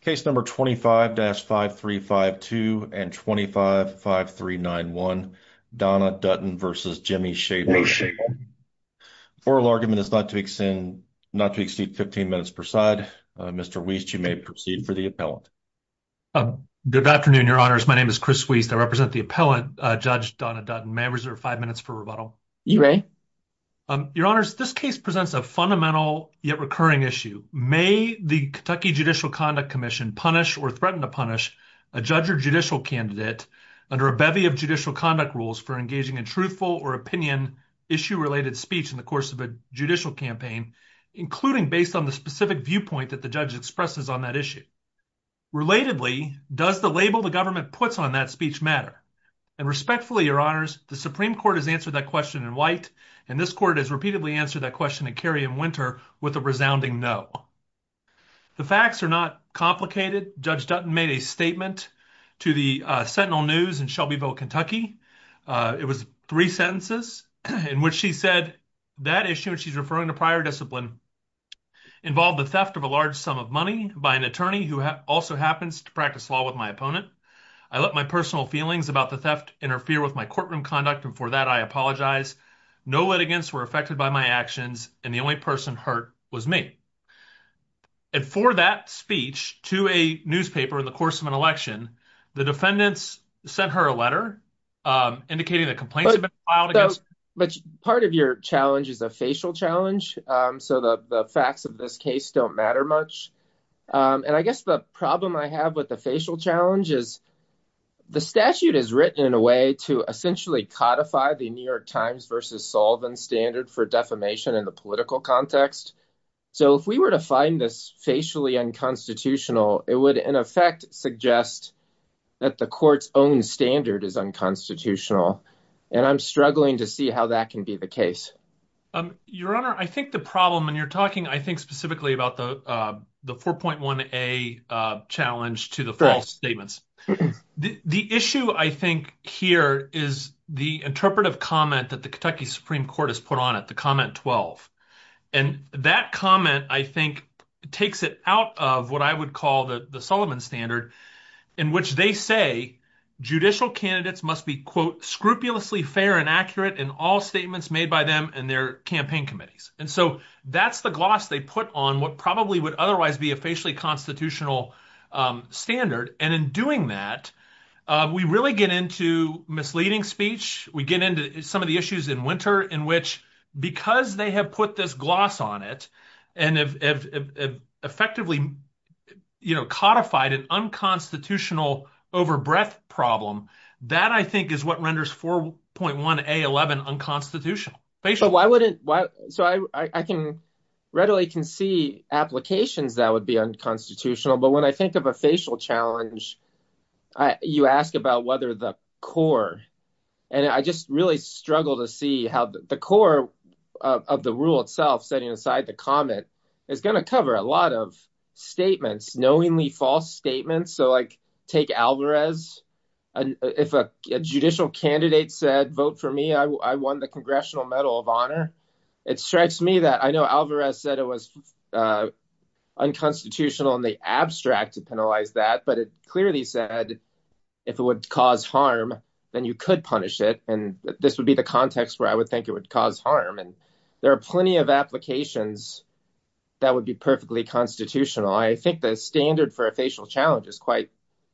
Case number 25-5352 and 25-5391 Donna Dutton v. Jimmy Shaffer. Oral argument is not to exceed 15 minutes per side. Mr. Wiest, you may proceed for the appellant. Good afternoon, your honors. My name is Chris Wiest. I represent the appellant, Judge Donna Dutton. May I reserve five minutes for rebuttal? You may. Your honors, this case presents a fundamental yet recurring issue. May the Kentucky Judicial Conduct Commission punish or threaten to punish a judge or judicial candidate under a bevy of judicial conduct rules for engaging in truthful or opinion issue-related speech in the course of a judicial campaign, including based on the specific viewpoint that the judge expresses on that issue? Relatedly, does the label the government puts on that speech matter? And respectfully, your honors, the Supreme Court has answered that question in white, and this court has repeatedly answered that question in Kerry and Winter with a resounding no. The facts are not complicated. Judge Dutton made a statement to the Sentinel News in Shelbyville, Kentucky. It was three sentences in which she said that issue, and she's referring to prior discipline, involved the theft of a large sum of money by an attorney who also happens to practice law with my opponent. I let my personal feelings about the theft interfere with my courtroom conduct, and for that, I apologize. No litigants were affected by my actions, and the only person hurt was me. And for that speech to a newspaper in the course of an election, the defendants sent her a letter indicating that complaints had been filed against her. But part of your challenge is a facial challenge, so the facts of this case don't matter much. And I guess the problem I have with the facial challenge is the statute is written in a way to essentially codify the New York Times versus Sullivan standard for defamation in the political context. So if we were to find this facially unconstitutional, it would, in effect, suggest that the court's own standard is unconstitutional, and I'm struggling to see how that can be the case. Your honor, I think the problem, and you're talking, I think, specifically about the 4.1a challenge to the false statements. The issue, I think, here is the interpretive comment that the Kentucky Supreme Court has put on it, the comment 12. And that comment, I think, takes it out of what I would call the Sullivan standard, in which they say judicial candidates must be, quote, scrupulously fair and accurate in all statements made by them and their campaign committees. And so that's the gloss they put on what probably would otherwise be a facially constitutional standard. And in doing that, we really get into misleading speech. We get into some of the issues in Winter in which, because they have put this gloss on it and have effectively codified an unconstitutional over-breath problem, that, I think, is what renders 4.1a11 unconstitutional. So I readily can see applications that would be unconstitutional. But when I think of a facial challenge, you ask about whether the core—and I just really struggle to see how the core of the rule itself, setting aside the comment, is going to cover a lot of statements, knowingly false statements. So, like, take Alvarez. If a judicial candidate said, vote for me, I won the Congressional Medal of Honor, it strikes me that—I know Alvarez said it was unconstitutional in the abstract to penalize that, but it clearly said if it would cause harm, then you could punish it. And this would be the context where I would think it would cause harm. And there are plenty of applications that would be perfectly constitutional. I think the standard for a facial challenge is quite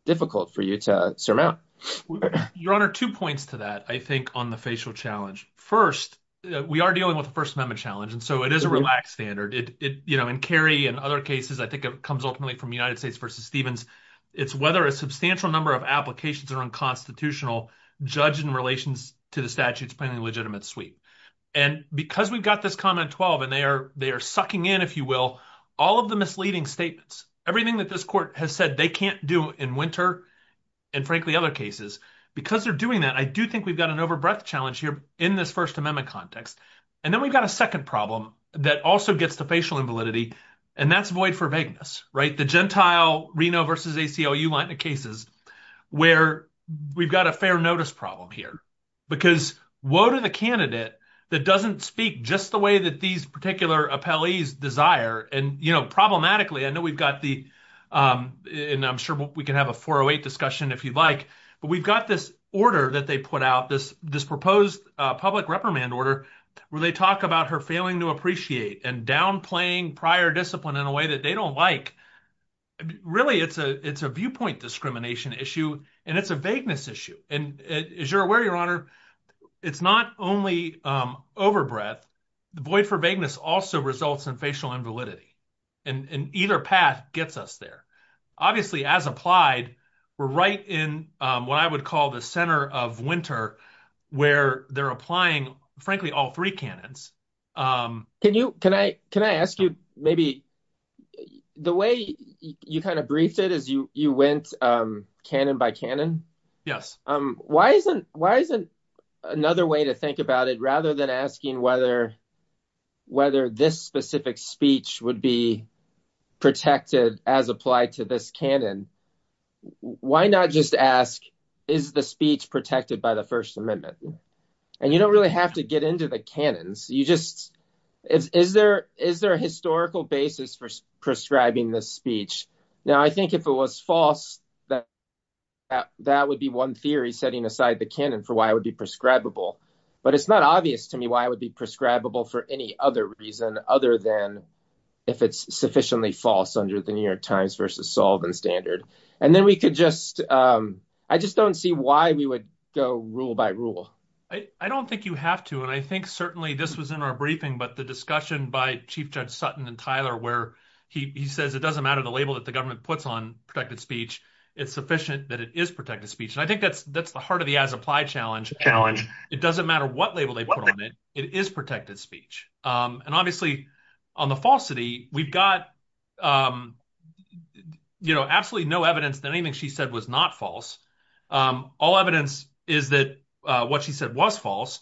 difficult for you to surmount. Your Honor, two points to that, I think, on the facial challenge. First, we are dealing with a First Amendment challenge, and so it is a relaxed standard. In Kerry and other cases, I think it comes ultimately from United States v. Stevens, it's whether a substantial number of applications are unconstitutional, judged in relation to the statute's plainly legitimate sweep. And because we've got this comment 12, and they are sucking in, if you will, all of the misleading statements, everything that this Court has said they can't do in Winter and, frankly, other cases. Because they're doing that, I do think we've got an overbreath challenge here in this First Amendment context. And then we've got a second problem that also gets to facial invalidity, and that's void for vagueness, right? The Gentile Reno v. ACLU line of cases where we've got a fair notice problem here, because woe to the candidate that doesn't speak just the way that these particular appellees desire. And, you know, problematically, I know we've got the, and I'm sure we can have a 408 discussion if you'd like, but we've got this order that they put out, this proposed public reprimand order, where they talk about her failing to appreciate and downplaying prior discipline in a way that they don't like. Really, it's a viewpoint discrimination issue, and it's a vagueness issue. And as you're aware, Your Honor, it's not only overbreath. The void for vagueness also results in facial invalidity. And either path gets us there. Obviously, as applied, we're right in what I would call the center of winter, where they're applying, frankly, all three canons. Can you, can I, can I ask you, maybe, the way you kind of briefed it as you went canon by canon? Yes. Why isn't, why isn't another way to think about it, rather than asking whether, whether this specific speech would be protected as applied to this canon? Why not just ask, is the speech protected by the First Amendment? And you don't really have to get into the canons. You just, is, is there, is there a historical basis for prescribing this speech? Now, I think if it was false, that that would be one theory setting aside the canon for why it would be prescribable. But it's not obvious to me why it would be prescribable for any other reason, other than if it's sufficiently false under the New York Times versus Sullivan standard. And then we could just, I just don't see why we would go rule by rule. I don't think you have to. And I think certainly this was in our briefing, but the discussion by Chief Judge Sutton and Tyler, where he says, it doesn't matter the label that the government puts on protected speech, it's sufficient that it is protected speech. And I think that's, that's the challenge. It doesn't matter what label they put on it, it is protected speech. And obviously on the falsity, we've got, you know, absolutely no evidence that anything she said was not false. All evidence is that what she said was false.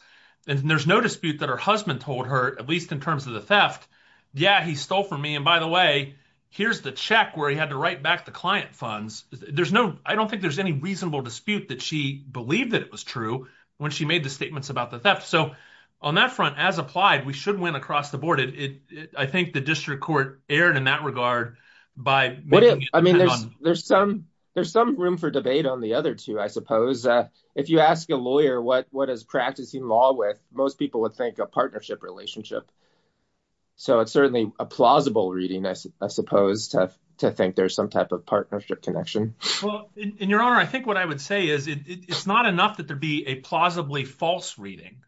And there's no dispute that her husband told her, at least in terms of the theft, yeah, he stole from me. And by the way, here's the check where he had to write back the client funds. There's no, I don't think there's any reasonable dispute that she believed that it was true when she made the statements about the theft. So on that front, as applied, we should win across the board. I think the district court erred in that regard by making it- I mean, there's some room for debate on the other two, I suppose. If you ask a lawyer what is practicing law with, most people would think a partnership relationship. So it's certainly a plausible reading, I suppose, to think there's some type of it's not enough that there'd be a plausibly false reading.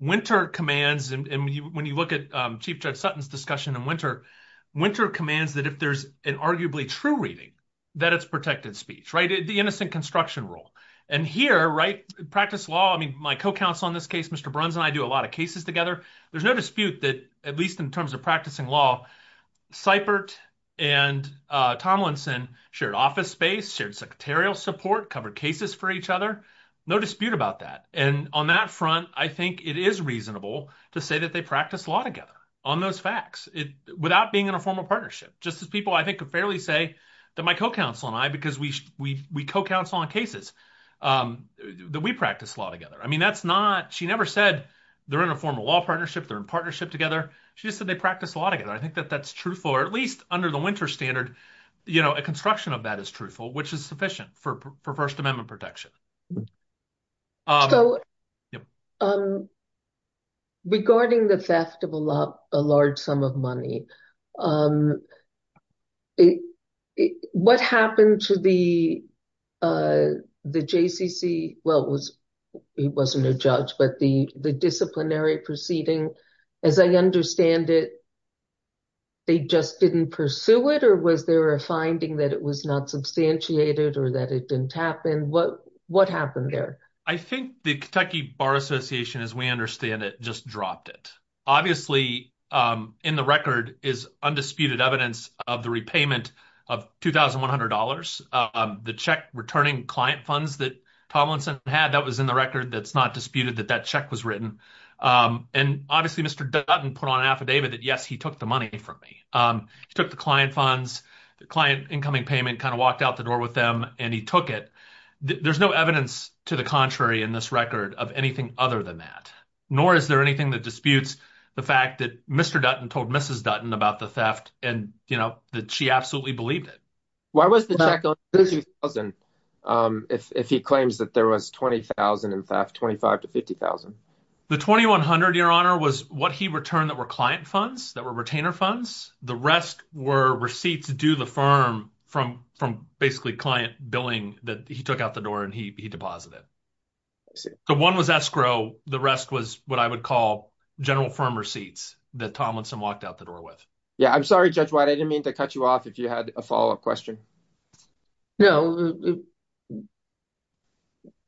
Wynter commands, and when you look at Chief Judge Sutton's discussion in Wynter, Wynter commands that if there's an arguably true reading, that it's protected speech, right? The innocent construction rule. And here, right, practice law, I mean, my co-counsel on this case, Mr. Bruns, and I do a lot of cases together. There's no dispute that, at least in terms of practicing law, Seibert and Tomlinson shared office space, shared secretarial support, covered cases for each other. No dispute about that. And on that front, I think it is reasonable to say that they practice law together on those facts, without being in a formal partnership. Just as people, I think, could fairly say that my co-counsel and I, because we co-counsel on cases, that we practice law together. I mean, that's not- she never said they're in a formal law partnership, they're in partnership together. She just said they practice law together. I think that that's truthful, or at least under the Wynter standard, you know, a construction of that is truthful, which is sufficient for First Amendment protection. So, regarding the theft of a large sum of money, what happened to the JCC- well, it wasn't a judge, but the disciplinary proceeding, as I understand it, they just didn't pursue it? Or was there a finding that it was not substantiated or that it didn't happen? What happened there? I think the Kentucky Bar Association, as we understand it, just dropped it. Obviously, in the record is undisputed evidence of the repayment of $2,100. The check returning client funds that Tomlinson had, that was in the record, that's not disputed that that check was written. And, obviously, Mr. Dutton put on an affidavit that, yes, he took the money from me. He took the client funds, the client incoming payment, kind of walked out the door with them, and he took it. There's no evidence to the contrary in this record of anything other than that, nor is there anything that disputes the fact that Mr. Dutton told Mrs. Dutton about the theft and, you know, that she absolutely believed it. Why was the check only $2,000 if he claims that there was $20,000 in theft, $25,000 to $50,000? The $2,100, Your Honor, was what he returned that were client funds, that were retainer funds. The rest were receipts due the firm from basically client billing that he took out the door and he deposited. The one was escrow. The rest was what I would call general firm receipts that Tomlinson walked out the door with. Yeah, I'm sorry, Judge White. I didn't mean to cut you off if you had a follow-up question. No,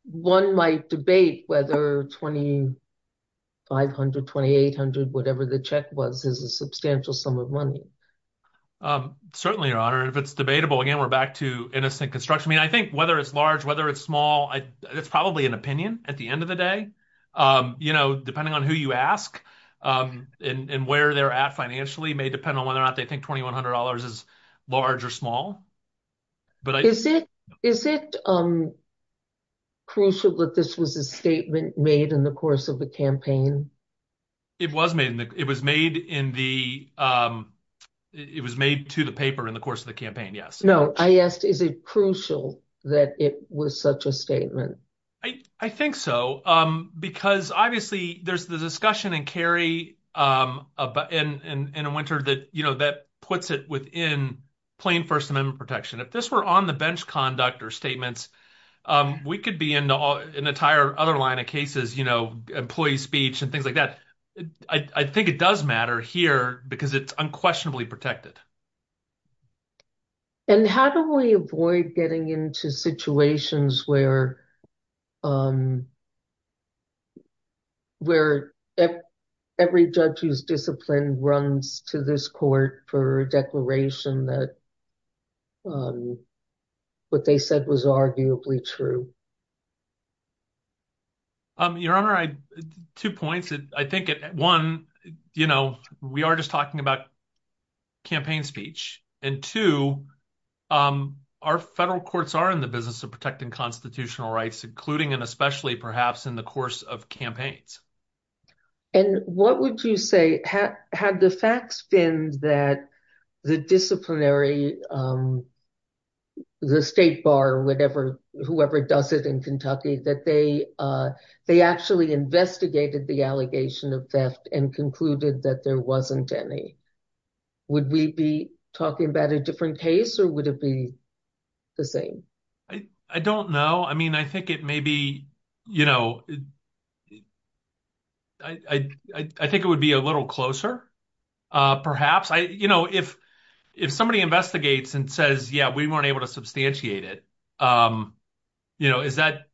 one might debate whether $2,500, $2,800, whatever the check was, is a substantial sum of money. Certainly, Your Honor. If it's debatable, again, we're back to innocent construction. I mean, I think whether it's large, whether it's small, it's probably an opinion at the end of the day. You know, depending on who you ask and where they're at may depend on whether or not they think $2,100 is large or small. Is it crucial that this was a statement made in the course of the campaign? It was made. It was made to the paper in the course of the campaign, yes. No, I asked is it crucial that it was such a statement? I think so because obviously there's the discussion in Kerry in a winter that puts it within plain First Amendment protection. If this were on the bench conduct or statements, we could be in an entire other line of cases, you know, employee speech and things like that. I think it does matter here because it's unquestionably protected. And how do we avoid getting into situations where where every judge who's disciplined runs to this court for a declaration that what they said was arguably true? Your Honor, two points. I think one, you know, we are just talking about campaign speech. And two, our federal courts are in the business of protecting constitutional rights, including and especially perhaps in the course of campaigns. And what would you say had the facts been that the disciplinary, the state bar, whatever, whoever does it in Kentucky, that they actually investigated the allegation of theft and concluded that there wasn't any? Would we be talking about a different case or would it be the same? I don't know. I mean, I think it may be, you know, I think it would be a little closer, perhaps. You know, if if somebody investigates and says, yeah, we weren't able to substantiate it, you know, is that,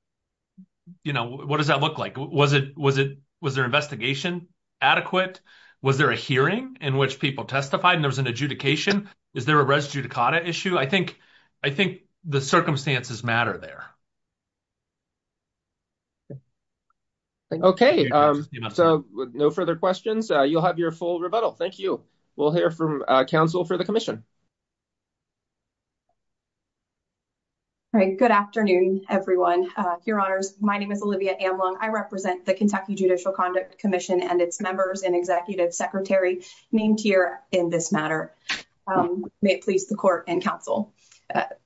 you know, what does that look like? Was it was it was their investigation adequate? Was there a hearing in which people testified and there was an adjudication? Is there a res judicata issue? I think I think the circumstances matter there. Okay, so no further questions. You'll have your full rebuttal. Thank you. We'll hear from counsel for the commission. All right. Good afternoon, everyone. Your honors. My name is Olivia Amlong. I represent the Kentucky Judicial Conduct Commission and its members and executive secretary named here in this matter. May it please the court and counsel.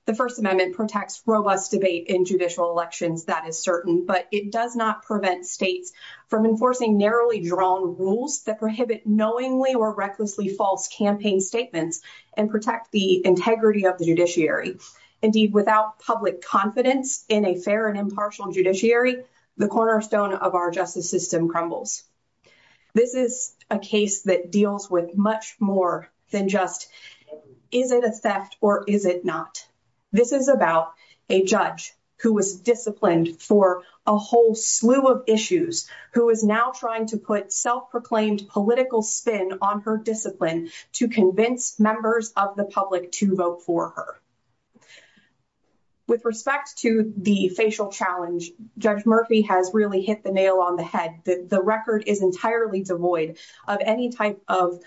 The First Amendment protects robust debate in judicial elections, that is certain, but it does not prevent states from enforcing narrowly drawn rules that prohibit knowingly or recklessly false campaign statements and protect the integrity of the judiciary. Indeed, without public confidence in a fair and impartial judiciary, the cornerstone of our justice system crumbles. This is a case that deals with much more than just is it a theft or is it not? This is about a judge who was disciplined for a whole slew of issues, who is now trying to put self-proclaimed political spin on her discipline to convince members of the public to vote for her. With respect to the facial challenge, Judge Murphy has really hit the nail on the head. The record is entirely devoid of any type of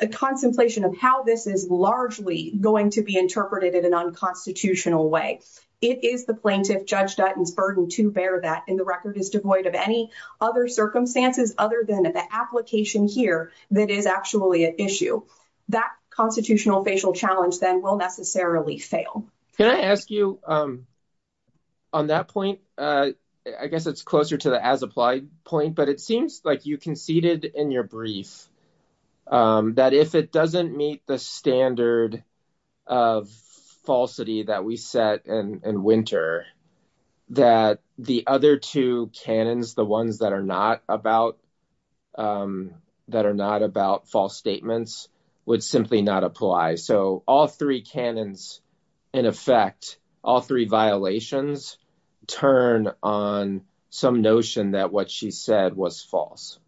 a contemplation of how this is largely going to be interpreted in an unconstitutional way. It is the plaintiff, Judge Dutton's, burden to bear that, and the record is devoid of any other circumstances other than the application here that is actually an issue. That constitutional facial challenge then will necessarily fail. Can I ask you, on that point, I guess it's closer to the as-applied point, but it seems like you conceded in your brief that if it doesn't meet the standard of falsity that we set in Winter, that the other two canons, the ones that are not about false statements, would simply not apply. All three canons, in effect, all three violations turn on some notion that what she said was false.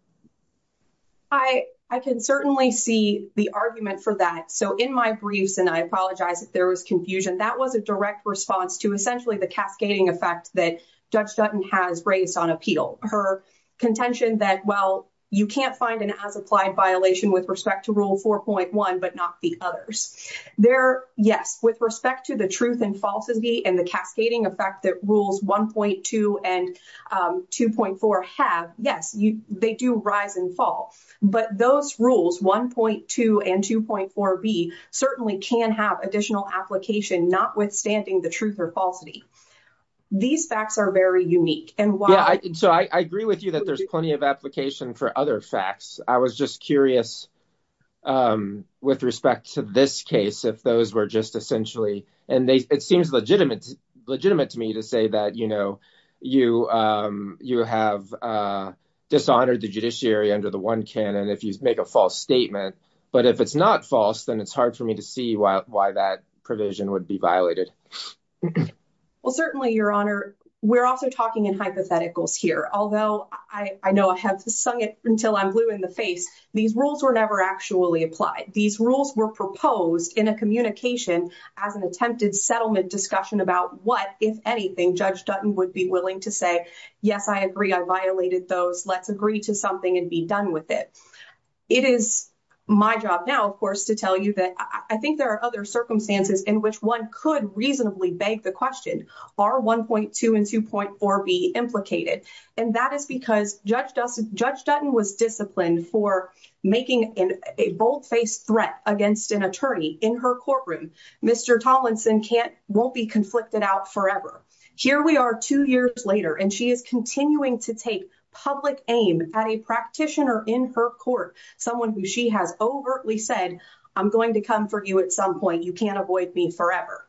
I can certainly see the argument for that. So, in my briefs, and I apologize if there was confusion, that was a direct response to essentially the cascading effect that Judge Dutton has raised on appeal. Her contention that, well, you can't find an as-applied violation with respect to Rule 4.1, but not the others. There, yes, with respect to the truth and falsity and the cascading effect that Rules 1.2 and 2.4 have, yes, they do rise and fall. But those rules, 1.2 and 2.4b, certainly can have additional application notwithstanding the truth or falsity. These facts are very unique. So, I agree with you that there's plenty of application for other facts. I was just curious with respect to this case, if those were just essentially, and it seems legitimate to me to say that, you know, you have dishonored the judiciary under the one canon if you make a false statement. But if it's not false, then it's hard for me to see why that provision would be violated. Well, certainly, Your Honor, we're also talking in hypotheticals here. Although I know I have sung it until I'm blue in the face, these rules were never actually applied. These rules were proposed in a communication as an attempted settlement discussion about what, if anything, Judge Dutton would be willing to say, yes, I agree I violated those. Let's agree to something and be done with it. It is my job now, of course, to tell you that I think there are other circumstances in which one could reasonably beg the question, are 1.2 and 2.4b implicated? And that is because Judge Dutton was disciplined for making a bold-faced threat against an attorney in her courtroom. Mr. Tollinson won't be conflicted out forever. Here we are two years later, and she is continuing to take public aim at a practitioner in her court, someone who she has overtly said, I'm going to come for you at some point. You can't avoid me forever.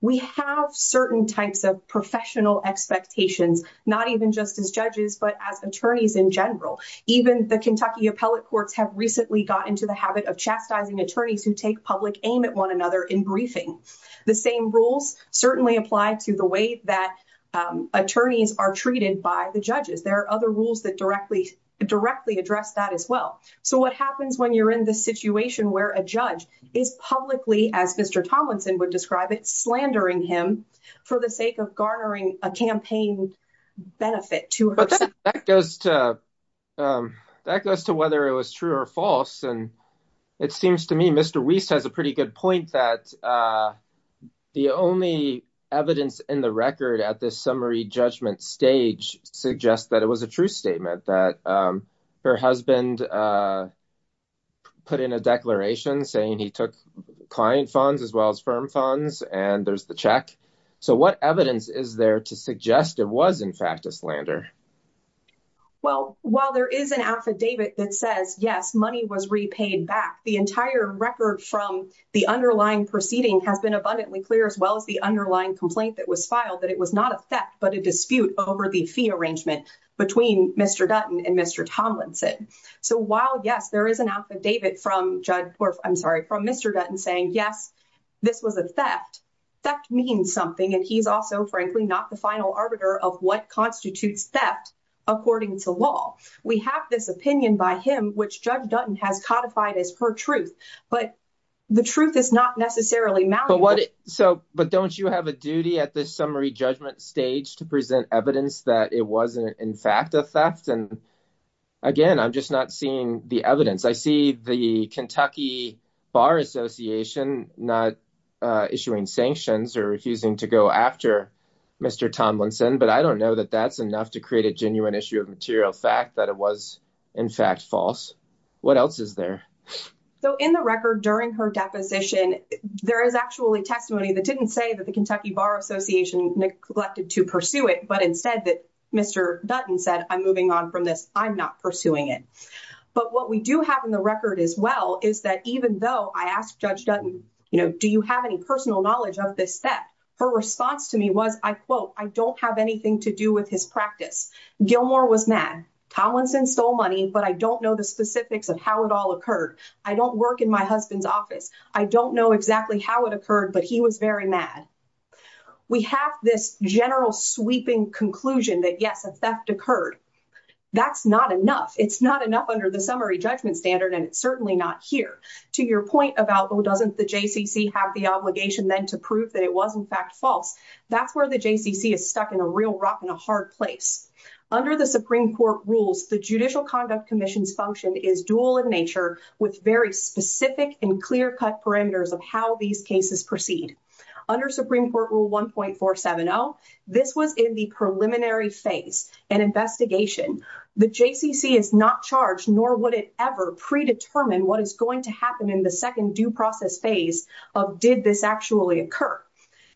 We have certain types of professional expectations, not even just as judges, but as attorneys in general. Even the Kentucky appellate courts have recently got into the habit of chastising attorneys who take public aim at one another in briefing. The same rules certainly apply to the way that attorneys are treated by the judges. There are other rules that directly address that as well. So what happens when you're in the situation where a judge is publicly, as Mr. Tollinson would describe it, slandering him for the sake of garnering a campaign benefit to herself? That goes to whether it was true or false, and it seems to me Mr. Wiest has a pretty good point that the only evidence in the record at this summary judgment suggests that it was a true statement that her husband put in a declaration saying he took client funds as well as firm funds, and there's the check. So what evidence is there to suggest it was in fact a slander? Well, while there is an affidavit that says yes, money was repaid back, the entire record from the underlying proceeding has been abundantly clear as well as the underlying complaint that was filed that it was not a theft but a dispute over the fee arrangement between Mr. Dutton and Mr. Tomlinson. So while yes, there is an affidavit from Mr. Dutton saying yes, this was a theft, theft means something and he's also frankly not the final arbiter of what constitutes theft according to law. We have this opinion by him which Judge Dutton has codified as her truth, but the truth is not necessarily malleable. But don't you have a duty at this summary judgment stage to present evidence that it wasn't in fact a theft? And again, I'm just not seeing the evidence. I see the Kentucky Bar Association not issuing sanctions or refusing to go after Mr. Tomlinson, but I don't know that that's enough to create a genuine issue of material fact that it was in fact false. What else is there? So in the record during her deposition, there is actually testimony that didn't say that the Kentucky Bar Association neglected to pursue it, but instead that Mr. Dutton said, I'm moving on from this, I'm not pursuing it. But what we do have in the record as well is that even though I asked Judge Dutton, you know, do you have any personal knowledge of this theft? Her response to me was, I quote, I don't have anything to do with his practice. Gilmore was mad. Tomlinson stole money, but I don't know the specifics of how it all occurred. I don't work in my husband's office. I don't know exactly how it occurred, but he was very mad. We have this general sweeping conclusion that yes, a theft occurred. That's not enough. It's not enough under the summary judgment standard and it's certainly not here. To your point about, well, doesn't the JCC have the obligation then to prove that it was in fact false? That's where the JCC is stuck in a real rock and a hard place. Under the Supreme Court rules, the Judicial Conduct Commission's function is dual in nature with very specific and clear-cut parameters of how these cases proceed. Under Supreme Court Rule 1.470, this was in the preliminary phase, an investigation. The JCC is not charged, nor would it ever predetermine what is going to happen in the second due process phase of did this actually occur.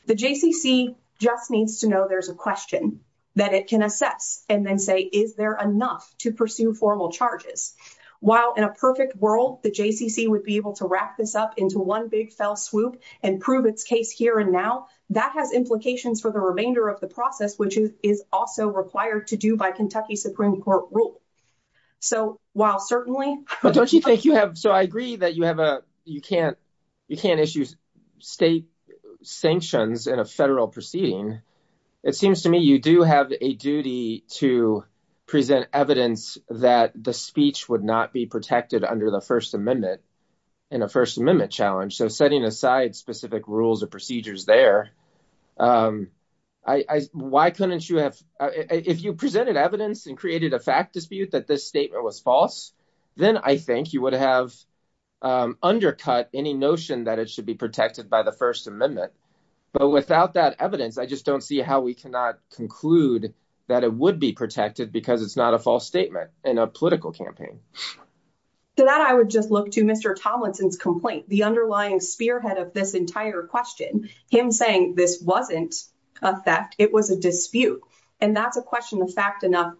The JCC just needs to know there's a question that it can assess and then say, is there enough to pursue formal charges? While in a perfect world, the JCC would be able to wrap this up into one big fell swoop and prove its case here and now, that has implications for the remainder of the process, which is also required to do by Kentucky Supreme Court rule. So while certainly... But don't you think you have... So I agree that you can't issue state sanctions in a federal proceeding. It seems to me you do have a duty to present evidence that the speech would not be protected under the First Amendment in a First Amendment challenge. So setting aside specific rules or procedures there, why couldn't you have... If you presented evidence and created a fact dispute that this statement was false, then I think you would have undercut any notion that it should be protected by the First Amendment. But without that evidence, I just don't see how we cannot conclude that it would be protected because it's not a false statement in a political campaign. So that I would just look to Mr. Tomlinson's complaint, the underlying spearhead of this entire question, him saying this wasn't a theft, it was a dispute. And that's a question of fact enough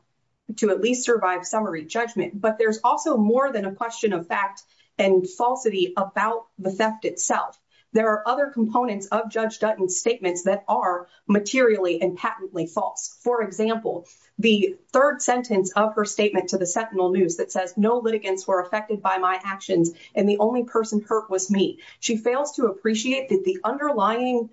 to at least survive summary judgment. But there's also more than a question of fact and falsity about the theft itself. There are other components of Judge Dutton's statements that are materially and patently false. For example, the third sentence of her statement to the Sentinel News that says, no litigants were affected by my actions and the only person hurt was me. She fails to appreciate that the underlying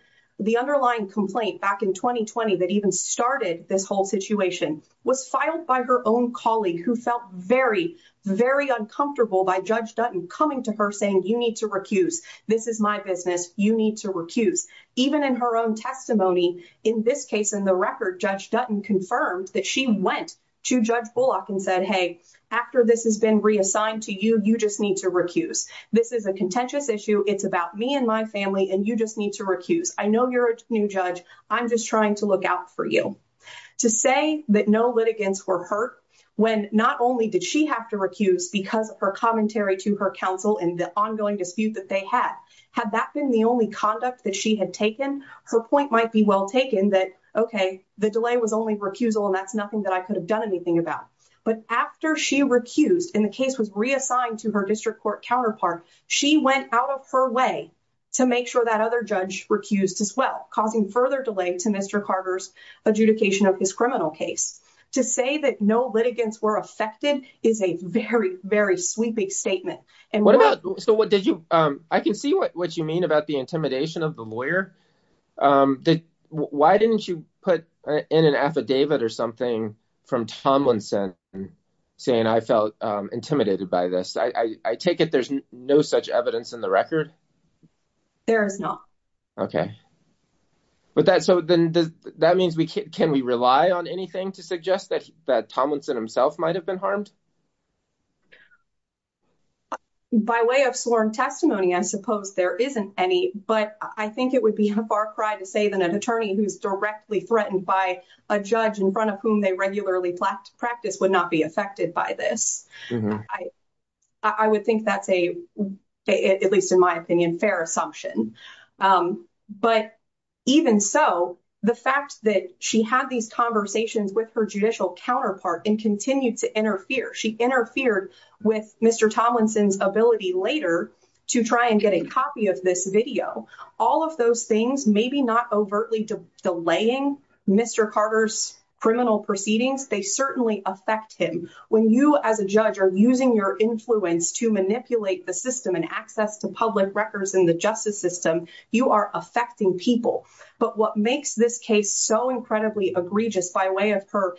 underlying complaint back in 2020 that even started this whole situation was filed by her own colleague who felt very, very uncomfortable by Judge Dutton coming to her saying, you need to recuse. This is my business. You need to recuse. Even in her own testimony, in this case, in the record, Judge Dutton confirmed that she went to Judge Bullock and said, hey, after this has been reassigned to you, you just need to recuse. This is a contentious issue. It's about me and my family, and you just need to recuse. I know you're a new judge. I'm just trying to look out for you. To say that no litigants were hurt when not only did she have to recuse because of her commentary to her counsel and the ongoing dispute that they had, had that been the only conduct that she had taken, her point might be well taken that, okay, the delay was only recusal, and that's nothing that I could have done anything about. But after she recused and the case was reassigned to her district court counterpart, she went out of her way to make sure that other judge recused as well, causing further delay to Mr. Carter's adjudication of his criminal case. To say that no litigants were affected is a very, very sweeping statement. And what about, so what did you, I can see what you mean about the intimidation of the lawyer. Why didn't you put in an affidavit or something from Tomlinson saying, I felt intimidated by this? I take it there's no such evidence in the record? There is not. Okay. But that, so then does, that means we can, can we rely on anything to suggest that, that Tomlinson himself might've been harmed? By way of sworn testimony, I suppose there isn't any, but I think it would be a far cry to say that an attorney who's directly threatened by a judge in front of whom they regularly practice would not be affected by this. I would think that's a, at least in my opinion, fair assumption. But even so, the fact that she had these conversations with her judicial counterpart and continued to interfere, she interfered with Mr. Tomlinson's ability later to try and get a copy of this video. All of those things, maybe not overtly delaying Mr. Carter's criminal proceedings, they certainly affect him. When you as a judge are using your influence to manipulate the system and access to public records in the justice system, you are affecting people. But what makes this case so incredibly egregious by way of her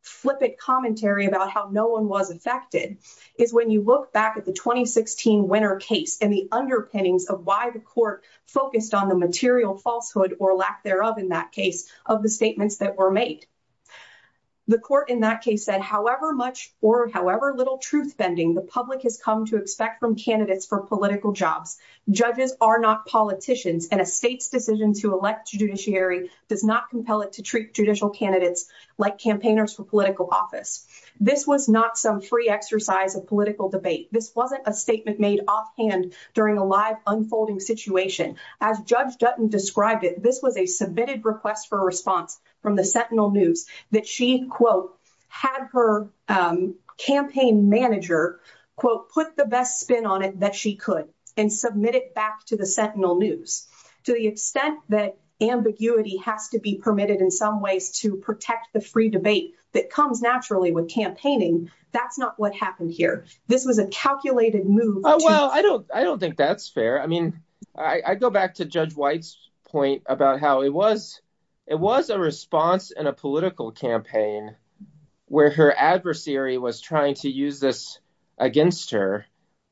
flippant commentary about how no one was affected is when you look back at the 2016 winner case and the underpinnings of why the court focused on the material falsehood or lack thereof in that case of the statements that were made. The court in that case said, however much or however little truth bending the public has come to expect from candidates for political jobs, judges are not politicians and a state's decision to elect a judiciary does not compel it to treat judicial candidates like campaigners for political office. This was not some free exercise of political debate. This wasn't a statement made offhand during a live unfolding situation. As Judge Dutton described it, this was a submitted request for a response from the Sentinel News that she, quote, had her campaign manager, quote, put the best spin on it that she could and submit it back to the Sentinel News. To the extent that ambiguity has to be permitted in some ways to protect the free debate that comes naturally with campaigning, that's not what happened here. This was a calculated move. Oh, well, I don't think that's fair. I mean, I go back to Judge White's point about how it was a response in a political campaign where her adversary was trying to use this against her,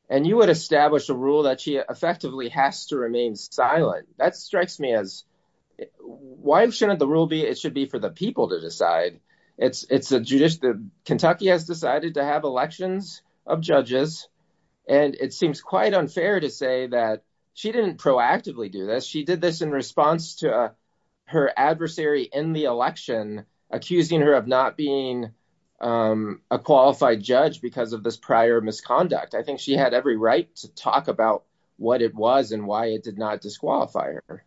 and you would establish a rule that she effectively has to remain silent. That strikes me as why shouldn't the rule be it should be for the people to decide? Kentucky has decided to have elections of judges, and it seems quite unfair to say that she didn't proactively do this. She did this in response to her adversary in the election, accusing her of not being a qualified judge because of this prior misconduct. I think she had every right to talk about what it was and why it did not disqualify her.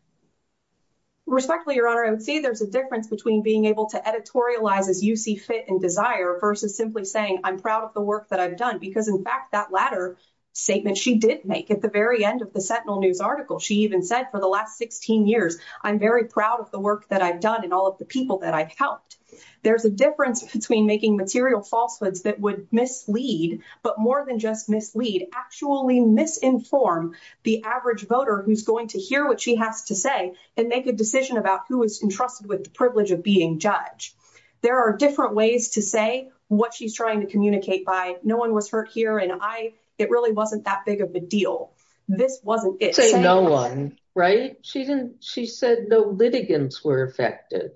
Respectfully, Your Honor, I would say there's a difference between being able to editorialize as you see fit and desire versus simply saying, I'm proud of the work that I've done, because in fact, that latter statement she did make at the very end of the Sentinel News article, she even said for the last 16 years, I'm very proud of the work that I've done and all of the people that I've helped. There's a difference between making material falsehoods that would mislead, but more than just mislead, actually misinform the average voter who's going to hear what she has to say and make a decision about who is entrusted with the privilege of being judge. There are different ways to say what she's trying to communicate by no one was hurt here and it really wasn't that big of a deal. This wasn't it. Say no one, right? She didn't, she said no litigants were affected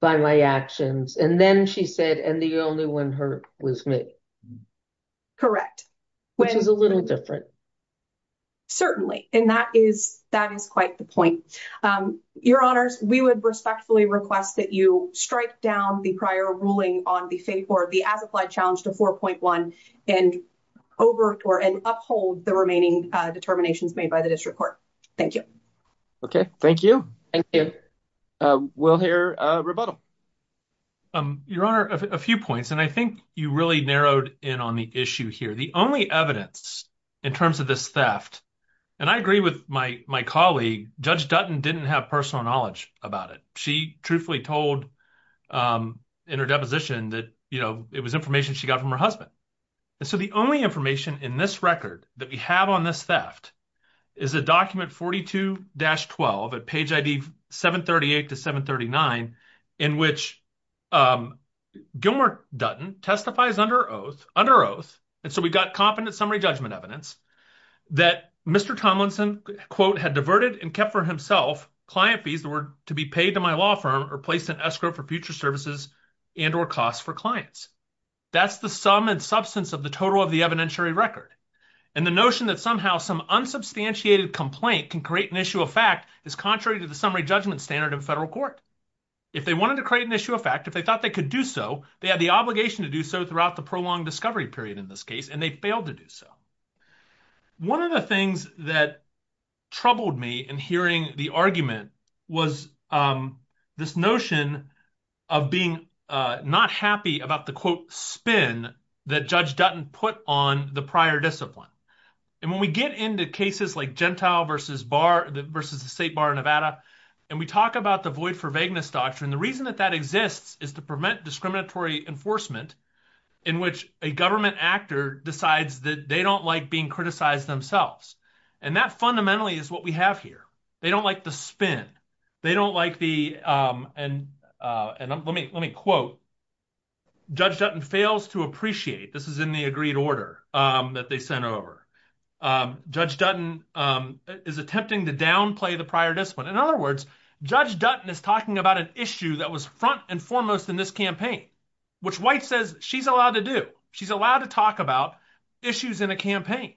by my actions and then she said and the only one hurt was me. Correct. Which is a little different. Certainly, and that is quite the point. Your Honors, we would respectfully request that you strike down the prior ruling on the as-applied challenge to 4.1 and over and uphold the remaining determinations made by the district court. Thank you. Okay, thank you. Thank you. We'll hear a rebuttal. Your Honor, a few points and I think you really narrowed in on the issue here. The only evidence in terms of this theft, and I agree with my colleague, Judge Dutton didn't have personal knowledge about it. She truthfully told in her deposition that, you know, it was information she got from her husband. And so the only information in this record that we have on this theft is a document 42-12 at page ID 738 to 739 in which Gilmer Dutton testifies under oath, under oath, and so we've got competent summary judgment evidence, that Mr. Tomlinson, quote, had diverted and kept for himself client fees that were to be paid to my law firm or placed in escrow for future services and or costs for clients. That's the sum and substance of the total of the evidentiary record. And the notion that somehow some unsubstantiated complaint can create an issue of fact is contrary to the summary judgment standard of federal court. If they wanted to create an issue of fact, if they thought they could do so, they had the obligation to do so throughout the prolonged discovery period in this case, and they failed to do so. One of the things that troubled me in hearing the argument was this notion of being not happy about the, quote, spin that Judge Dutton put on the prior discipline. And when we get into cases like Gentile versus the state bar in Nevada, and we talk about the void for vagueness doctrine, the reason that that exists is to prevent discriminatory enforcement in which a government actor decides that they don't like being criticized themselves. And that fundamentally is what we have here. They don't like the spin. They don't like the, and let me quote, Judge Dutton fails to appreciate, this is in the agreed order that they sent over, Judge Dutton is attempting to downplay the prior discipline. In other words, Judge Dutton is talking about an issue that was front and foremost in this campaign, which White says she's allowed to do. She's allowed to talk about issues in a campaign.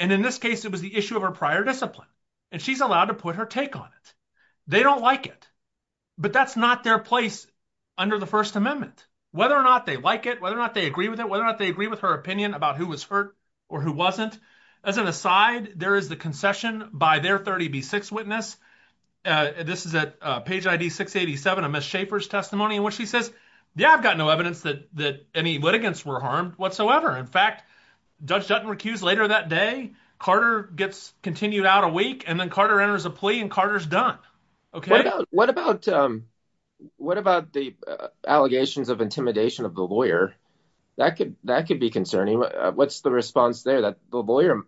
And in this case, it was the issue of her prior discipline, and she's allowed to put her take on it. They don't like it, but that's not their place under the First Amendment. Whether or not they like it, whether or not they agree with it, whether or not they agree with her opinion about who was hurt or who wasn't, as an aside, there is the concession by their 30B6 witness. This is at page ID 687 of Ms. Schaefer's testimony in which she says, yeah, I've got no evidence that any litigants were harmed whatsoever. In fact, Judge Dutton recused later that day, Carter gets continued out a week, and then Carter enters a plea and Carter's done. Okay. What about the allegations of intimidation of the lawyer? That could be concerning. What's the response there that the lawyer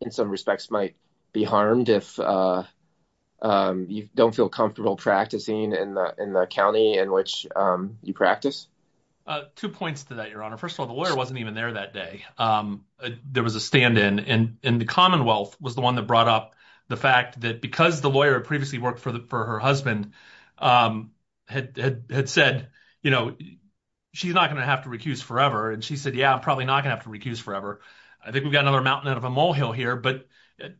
in some respects might be harmed if you don't feel comfortable practicing in the county in which you practice? Two points to that, Your Honor. First of all, the lawyer wasn't even there that day. There was a stand-in, and the Commonwealth was the one that brought up the fact that because the lawyer had previously worked for her husband had said, you know, she's not going to have to recuse forever. And she said, yeah, I'm probably not going to have to recuse forever. I think we've got another mountain out of a molehill here. But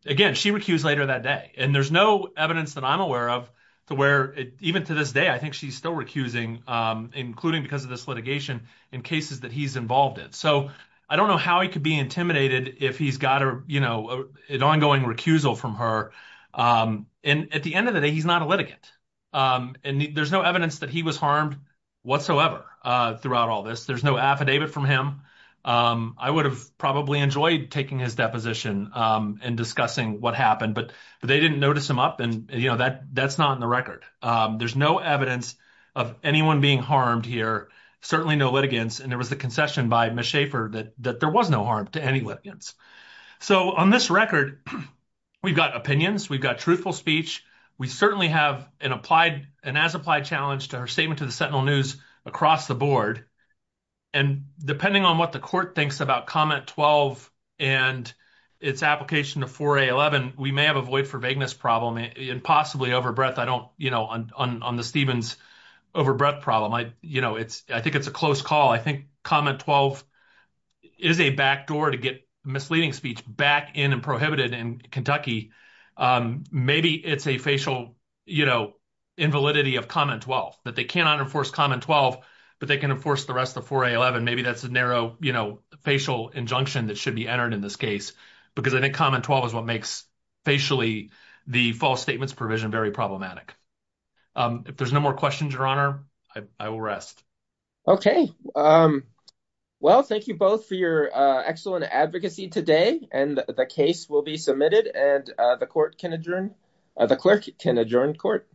again, she recused later that day. And there's no evidence that I'm aware of to where even to this day, I think she's still recusing, including because of this litigation in cases that he's involved in. So I don't know how he could be intimidated if he's got an ongoing recusal from her. And at the end of the day, he's not a litigant. And there's no evidence that he was harmed whatsoever throughout all this. There's no affidavit from him. I would have probably enjoyed taking his deposition and discussing what happened, but they didn't notice him up. And you know, that's not in the record. There's no evidence of anyone being harmed here, certainly no litigants. And there was the concession by Ms. Schaffer that there was no harm to any litigants. So on this record, we've got opinions, we've got truthful speech. We certainly have an as-applied challenge to her statement to the Sentinel News across the board. And depending on what the court thinks about comment 12 and its application to 4A11, we may have a void for vagueness problem and possibly overbreadth on the Stevens overbreadth problem. I think it's a close call. I think comment 12 is a backdoor to get misleading speech back in and prohibited in Kentucky. Maybe it's a facial invalidity of comment 12, that they cannot enforce comment 12, but they can enforce the 4A11. Maybe that's a narrow, you know, facial injunction that should be entered in this case, because I think comment 12 is what makes facially the false statements provision very problematic. If there's no more questions, your honor, I will rest. Okay. Well, thank you both for your excellent advocacy today. And the case will be submitted and the court can adjourn, the clerk can adjourn court.